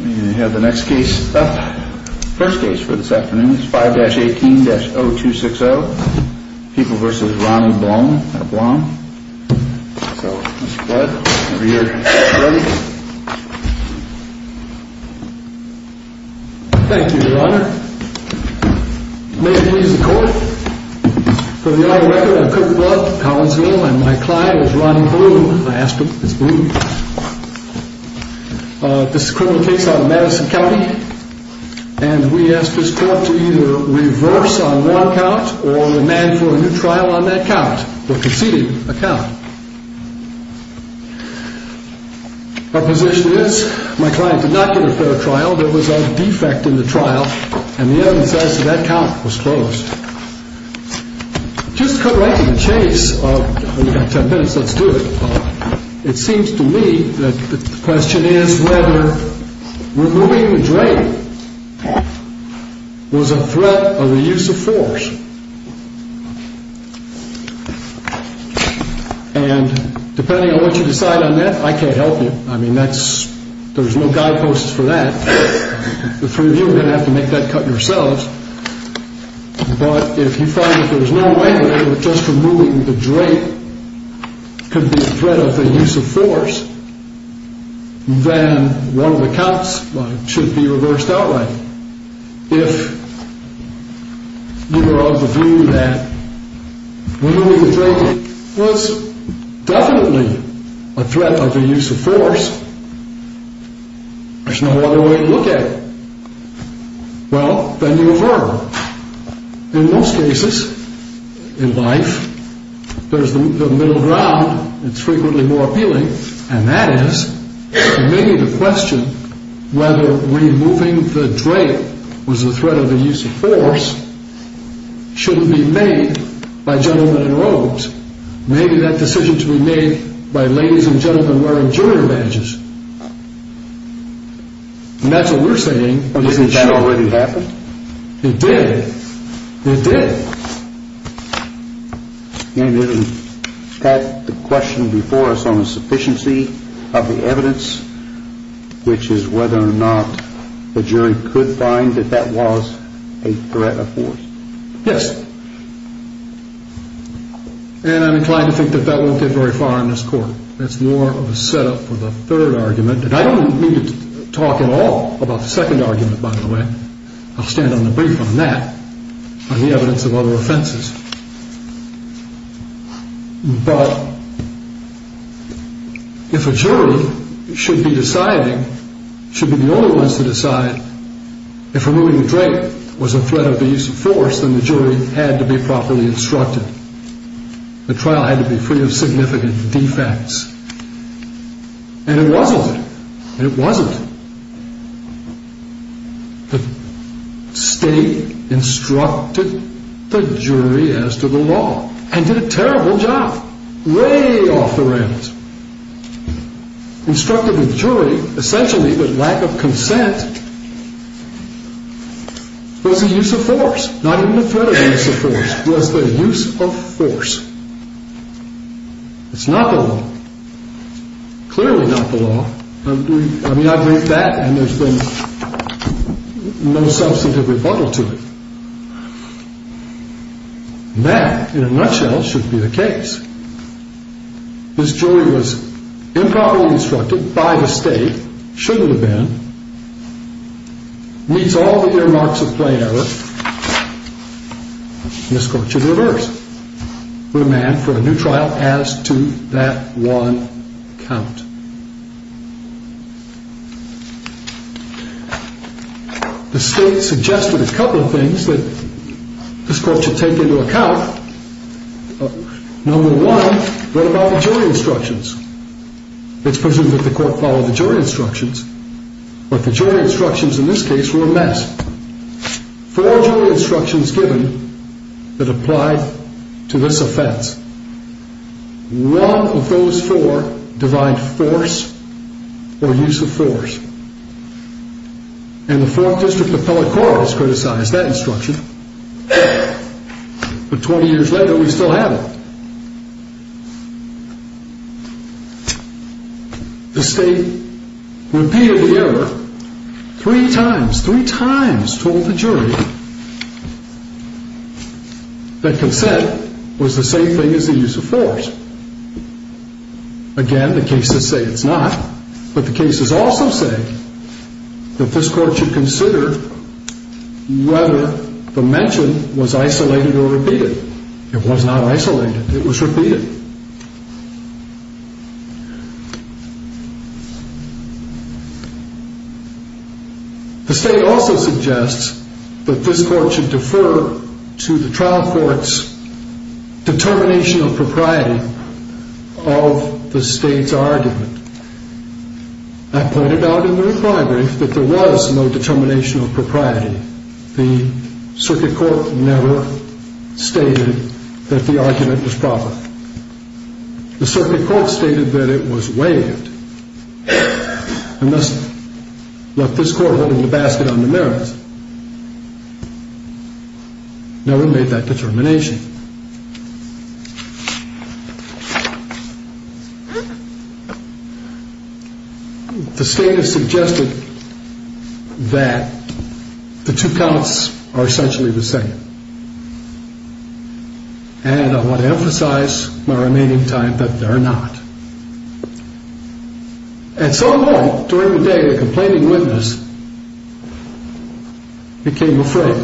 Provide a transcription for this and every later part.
We have the next case up, first case for this afternoon. It's 5-18-0260. People v. Ronnie Blom. So Mr. Blom, are you ready? Thank you, Your Honor. May it please the Court. For the audit record, I'm Cooke Blum, Collinsville, and my client is Ronnie Blum. I asked him, it's Blum. This is a criminal case out of Madison County. And we asked this Court to either reverse on one count, or demand for a new trial on that count, or conceding a count. Our position is, my client did not get a fair trial. There was a defect in the trial. And the evidence says that that count was closed. Just cut right to the chase of, you've got ten minutes, let's do it. It seems to me that the question is whether removing the drain was a threat of the use of force. And depending on what you decide on that, I can't help you. I mean, that's, there's no guideposts for that. The three of you are going to have to make that cut yourselves. But if you find that there's no way that just removing the drain could be a threat of the use of force, then one of the counts should be reversed outright. If you are of the view that removing the drain was definitely a threat of the use of force, there's no other way to look at it. Well, then you revert. In most cases in life, there's the middle ground. It's frequently more appealing. And that is, maybe the question whether removing the drain was a threat of the use of force shouldn't be made by gentlemen in robes. Maybe that decision should be made by ladies and gentlemen wearing junior badges. And that's what we're saying. Isn't that already happened? It did. It did. And isn't that the question before us on the sufficiency of the evidence, which is whether or not the jury could find that that was a threat of force? Yes. And I'm inclined to think that that won't get very far in this court. That's more of a setup for the third argument. And I don't need to talk at all about the second argument, by the way. I'll stand on the brief on that, on the evidence of other offenses. But if a jury should be deciding, should be the only ones to decide, if removing the drain was a threat of the use of force, then the jury had to be properly instructed. The trial had to be free of significant defects. And it wasn't. It wasn't. The state instructed the jury as to the law and did a terrible job, way off the rails. Instructed the jury, essentially, that lack of consent was a use of force, not even a threat of use of force. That was the use of force. It's not the law. Clearly not the law. I mean, I believe that, and there's been no substantive rebuttal to it. That, in a nutshell, should be the case. This jury was improperly instructed by the state, shouldn't have been, meets all the earmarks of plain error, and this Court should reverse, remand for a new trial as to that one count. The state suggested a couple of things that this Court should take into account. Number one, what about the jury instructions? It's presumed that the Court followed the jury instructions, but the jury instructions in this case were a mess. Four jury instructions given that applied to this offense. One of those four defined force or use of force. And the Fourth District Appellate Court has criticized that instruction, but 20 years later, we still have it. The state repeated the error three times, three times, told the jury that consent was the same thing as the use of force. Again, the cases say it's not, but the cases also say that this Court should consider whether the mention was isolated or repeated. It was not isolated, it was repeated. The state also suggests that this Court should defer to the trial court's determination of propriety of the state's argument. I pointed out in the reply brief that there was no determination of propriety. The circuit court never stated that the argument was proper. The circuit court stated that it was waived, and thus left this Court holding the basket on the merits. No one made that determination. The state has suggested that the two counts are essentially the same, and I want to emphasize my remaining time that they're not. At some point during the day, the complaining witness became afraid.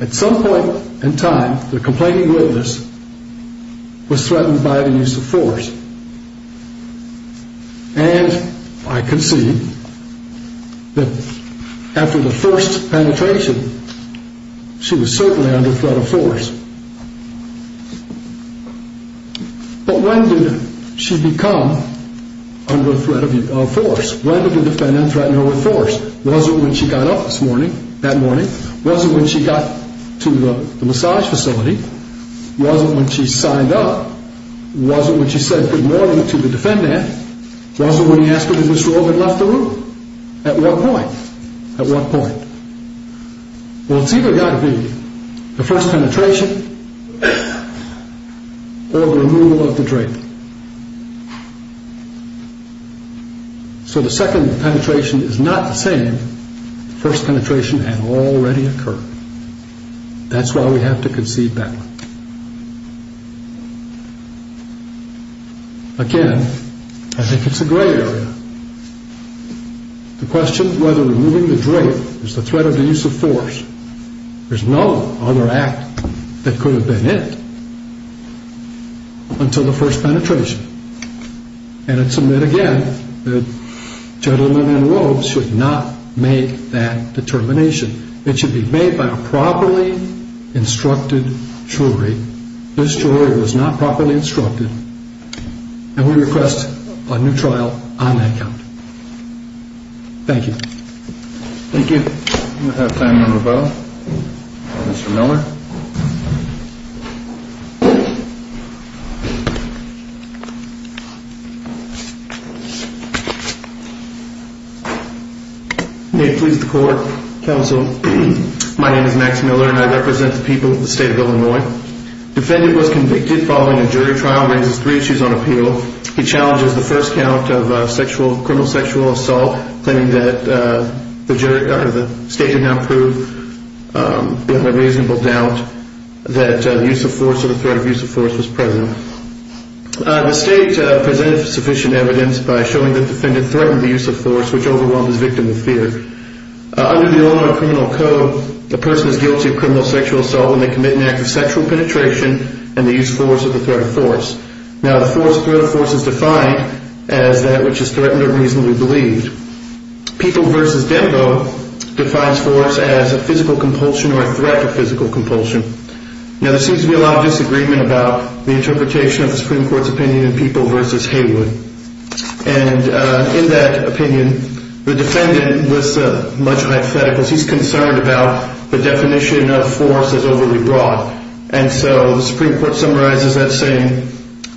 At some point in time, the complaining witness was threatened by the use of force, and I concede that after the first penetration, she was certainly under threat of force. But when did she become under threat of force? When did the defendant threaten her with force? Was it when she got up that morning? Was it when she got to the massage facility? Was it when she signed up? Was it when she said good morning to the defendant? Was it when he asked her to disrobe and left the room? At what point? Well, it's either got to be the first penetration, or the removal of the drape. So the second penetration is not the same. The first penetration had already occurred. That's why we have to concede that one. Again, I think it's a gray area. The question whether removing the drape is the threat of the use of force, there's no other act that could have been it until the first penetration. And I submit again that gentlemen in robes should not make that determination. It should be made by a properly instructed jury. This jury was not properly instructed, and we request a new trial on that count. Thank you. Thank you. We'll have time for a rebuttal. Mr. Miller. May it please the Court, Counsel. My name is Max Miller, and I represent the people of the state of Illinois. The defendant was convicted following a jury trial and raises three issues on appeal. He challenges the first count of criminal sexual assault, claiming that the state did not prove beyond a reasonable doubt that the use of force or the threat of use of force was present. The state presented sufficient evidence by showing that the defendant threatened the use of force, which overwhelmed his victim with fear. Under the Illinois Criminal Code, the person is guilty of criminal sexual assault when they commit an act of sexual penetration and the use of force or the threat of force. Now, the threat of force is defined as that which is threatened or reasonably believed. People v. Dembo defines force as a physical compulsion or a threat to physical compulsion. Now, there seems to be a lot of disagreement about the interpretation of the Supreme Court's opinion in People v. Haywood. And in that opinion, the defendant was much hypothetical. He's concerned about the definition of force as overly broad. And so the Supreme Court summarizes that saying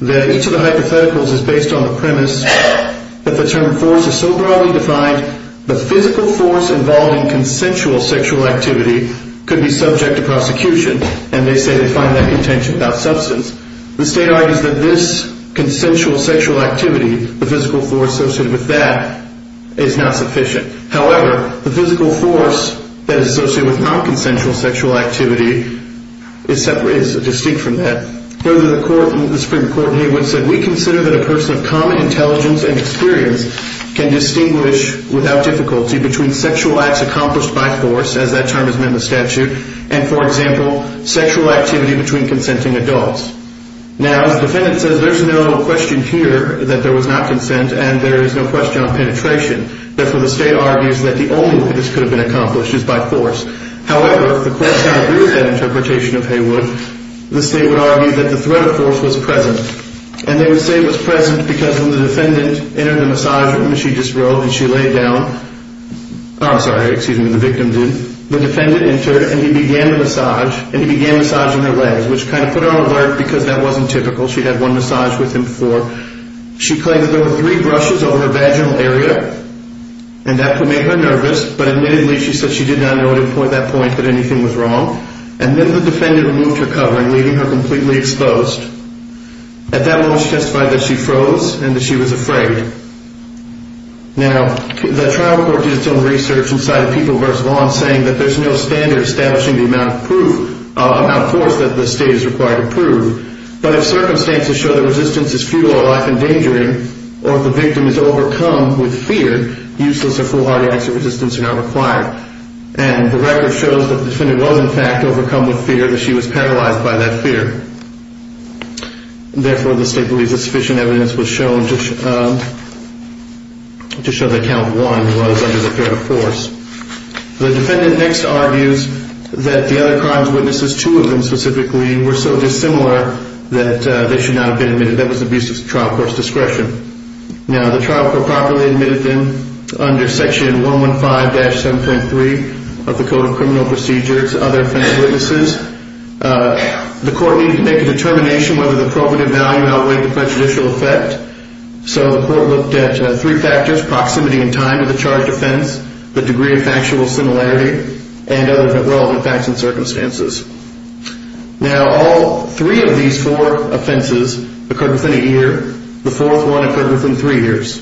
that each of the hypotheticals is based on the premise that the term force is so broadly defined, the physical force involved in consensual sexual activity could be subject to prosecution. And they say they find that contention without substance. The state argues that this consensual sexual activity, the physical force associated with that, is not sufficient. However, the physical force that is associated with nonconsensual sexual activity is distinct from that. Further, the Supreme Court in Haywood said, We consider that a person of common intelligence and experience can distinguish without difficulty between sexual acts accomplished by force, as that term is in the statute, and, for example, sexual activity between consenting adults. Now, as the defendant says, there's no question here that there was not consent and there is no question on penetration. Therefore, the state argues that the only way this could have been accomplished is by force. However, if the courts don't agree with that interpretation of Haywood, the state would argue that the threat of force was present. And they would say it was present because when the defendant entered the massage room, as she just wrote, and she laid down, I'm sorry, excuse me, the victim did, the defendant entered and he began to massage, and he began massaging her legs, which kind of put her on alert because that wasn't typical. She'd had one massage with him before. She claimed that there were three brushes over her vaginal area, and that could make her nervous, but admittedly she said she did not know at that point that anything was wrong. And then the defendant removed her covering, leaving her completely exposed. At that moment, she testified that she froze and that she was afraid. Now, the trial court did its own research and cited People v. Vaughn saying that there's no standard establishing the amount of force that the state is required to prove. But if circumstances show that resistance is futile or life-endangering, or if the victim is overcome with fear, useless or foolhardy acts of resistance are not required. And the record shows that the defendant was, in fact, overcome with fear, that she was paralyzed by that fear. Therefore, the state believes that sufficient evidence was shown to show that count one was under the threat of force. The defendant next argues that the other crimes witnesses, two of them specifically, were so dissimilar that they should not have been admitted. That was abuse of trial court's discretion. Now, the trial court properly admitted them under Section 115-7.3 of the Code of Criminal Procedures, other offense witnesses. The court needed to make a determination whether the probative value outweighed the prejudicial effect. So the court looked at three factors, proximity in time to the charged offense, the degree of factual similarity, and other relevant facts and circumstances. Now, all three of these four offenses occurred within a year. The fourth one occurred within three years.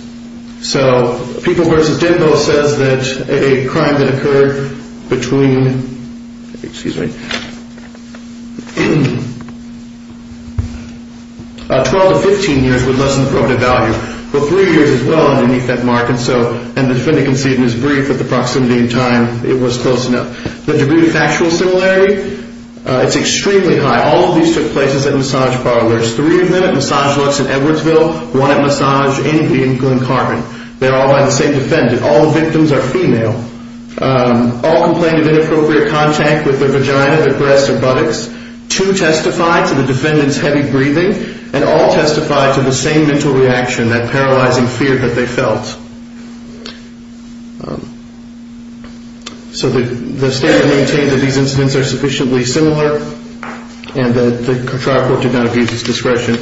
So People v. Denbo says that a crime that occurred between 12 and 15 years would lessen the probative value, but three years is well underneath that mark. And the defendant conceded in his brief that the proximity in time, it was close enough. The degree of factual similarity, it's extremely high. All of these took place at massage parlors. Three of them at Massage Lux in Edwardsville, one at Massage Anybody in Glen Carpenter. They're all by the same defendant. All the victims are female. All complained of inappropriate contact with their vagina, their breasts, or buttocks. Two testified to the defendant's heavy breathing, and all testified to the same mental reaction, that paralyzing fear that they felt. So the statement maintained that these incidents are sufficiently similar and that the contrary court did not abuse its discretion.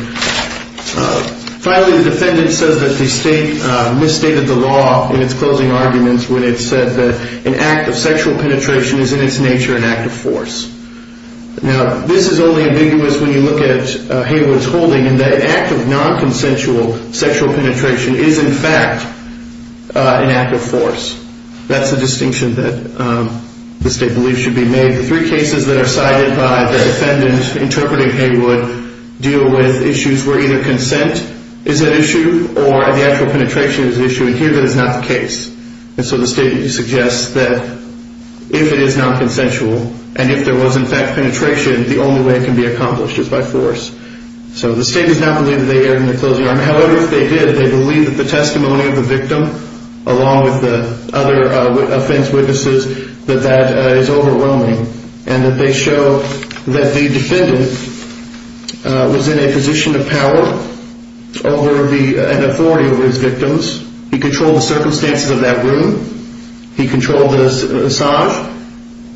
Finally, the defendant says that the state misstated the law in its closing arguments when it said that an act of sexual penetration is in its nature an act of force. Now, this is only ambiguous when you look at Haywood's holding in that an act of nonconsensual sexual penetration is in fact an act of force. That's the distinction that the state believes should be made. The three cases that are cited by the defendant interpreting Haywood deal with issues where either consent is at issue or the actual penetration is at issue, and here that is not the case. And so the state suggests that if it is nonconsensual, and if there was in fact penetration, the only way it can be accomplished is by force. So the state does not believe that they erred in their closing argument. However, if they did, they believe that the testimony of the victim, along with the other offense witnesses, that that is overwhelming, and that they show that the defendant was in a position of power and authority over his victims. He controlled the circumstances of that room. He controlled the massage.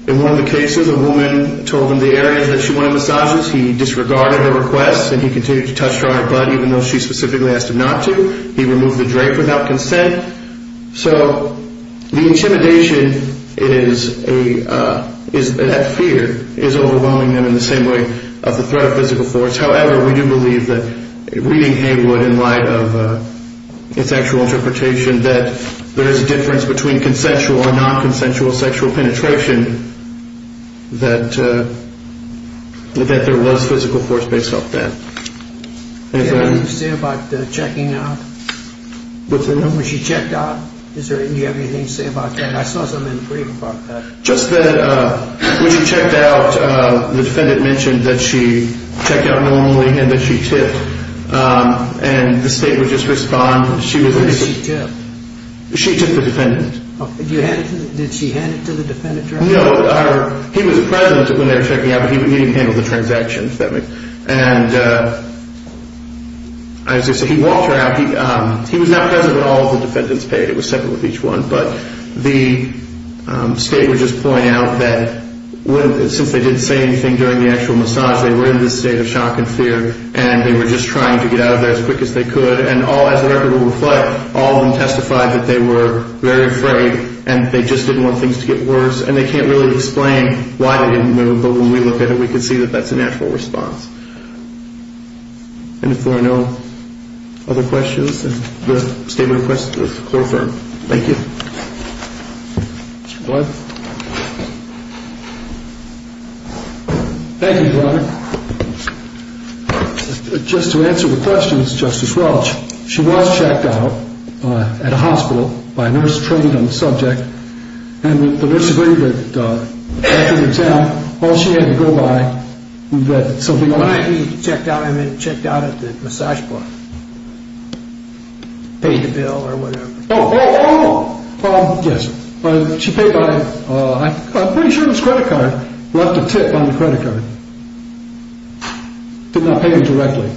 In one of the cases, a woman told him the areas that she wanted massages. He disregarded her request, and he continued to touch her on her butt, even though she specifically asked him not to. He removed the drape without consent. So the intimidation is that fear is overwhelming them in the same way of the threat of physical force. However, we do believe that, reading Heywood in light of his actual interpretation, that there is a difference between consensual and nonconsensual sexual penetration, that there was physical force based off that. Anything else? Do you have anything to say about checking out? What's that? When she checked out, do you have anything to say about that? I saw something in the brief about that. Just that when she checked out, the defendant mentioned that she checked out normally and that she tipped, and the state would just respond. Where did she tip? She tipped the defendant. Did she hand it to the defendant directly? No. He was present when they were checking out, but he didn't handle the transactions that way. And as I said, he walked her out. He was not present when all of the defendants paid. It was separate with each one. But the state would just point out that since they didn't say anything during the actual massage, they were in this state of shock and fear, and they were just trying to get out of there as quick as they could. And as the record will reflect, all of them testified that they were very afraid and they just didn't want things to get worse. And they can't really explain why they didn't move, but when we look at it, we can see that that's a natural response. And if there are no other questions, the statement of questions is confirmed. Thank you. Mr. Blood? Thank you, Your Honor. Just to answer the questions, Justice Welch, she was checked out at a hospital by a nurse trained on the subject, and the nurse agreed that after the attempt, all she had to go by was that something else had happened. I mean, checked out at the massage bar. Paid the bill or whatever. Oh, oh, oh, yes. She paid by, I'm pretty sure it was credit card, left a tip on the credit card. Did not pay her directly.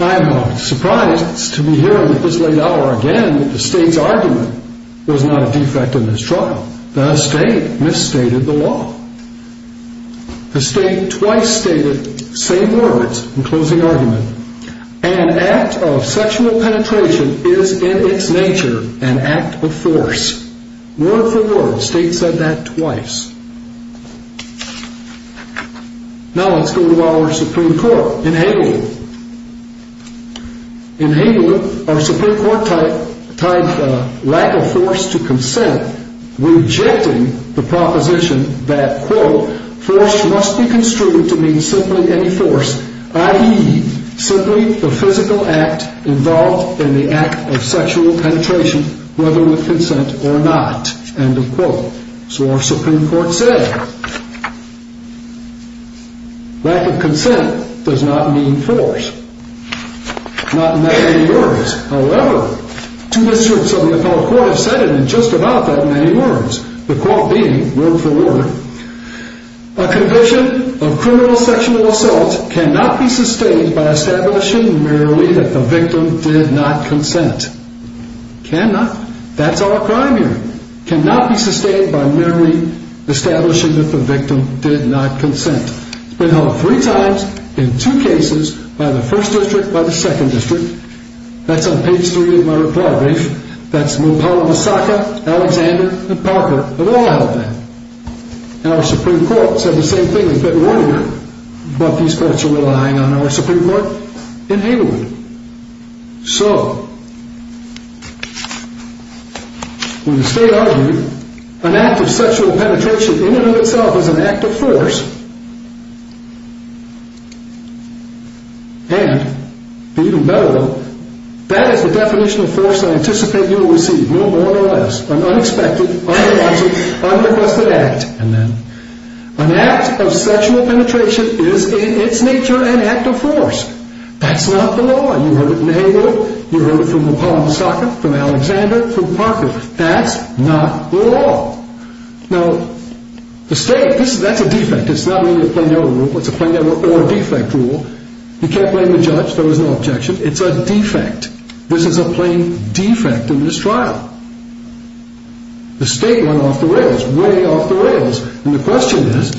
I'm surprised to be hearing at this late hour again that the state's argument was not a defect in this trial. The state misstated the law. The state twice stated the same words in closing argument, an act of sexual penetration is in its nature an act of force. Word for word, the state said that twice. Now let's go to our Supreme Court in Hagel. In Hagel, our Supreme Court tied the lack of force to consent, rejecting the proposition that, quote, force must be construed to mean simply any force, i.e., simply the physical act involved in the act of sexual penetration, whether with consent or not, end of quote. So our Supreme Court said lack of consent does not mean force. Not in that many words. However, two districts of the appellate court have said it in just about that many words, the quote being, word for word, a condition of criminal sexual assault cannot be sustained by establishing merely that the victim did not consent. Cannot. That's our crime here. Cannot be sustained by merely establishing that the victim did not consent. It's been held three times, in two cases, by the first district, by the second district. That's on page three of my report page. That's Mopala, Misaka, Alexander, and Parker, of all of them. And our Supreme Court said the same thing in February, but these courts are relying on our Supreme Court in Hagel. So, when the state argued, an act of sexual penetration in and of itself is an act of force, and, to even better them, that is the definition of force I anticipate you will receive, no more or less, an unexpected, unwanted, unrequested act. An act of sexual penetration is, in its nature, an act of force. That's not the law. You heard it in Hagel. You heard it from Mopala, Misaka, from Alexander, from Parker. That's not law. Now, the state, that's a defect. It's not really a plain error rule. It's a plain error or a defect rule. You can't blame the judge. There was no objection. It's a defect. This is a plain defect in this trial. The state went off the rails, way off the rails. And the question is,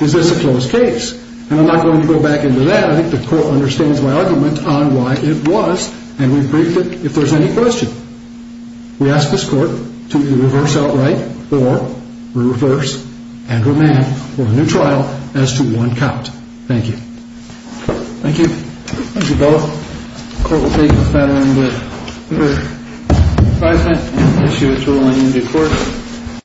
is this a closed case? And I'm not going to go back into that. I think the court understands my argument on why it was, and we've briefed it. If there's any question, we ask this court to either reverse outright or reverse and remand for a new trial as to one count. Thank you. Thank you. Thank you both. The court will take a final amendment. Five minutes to issue a ruling in due course.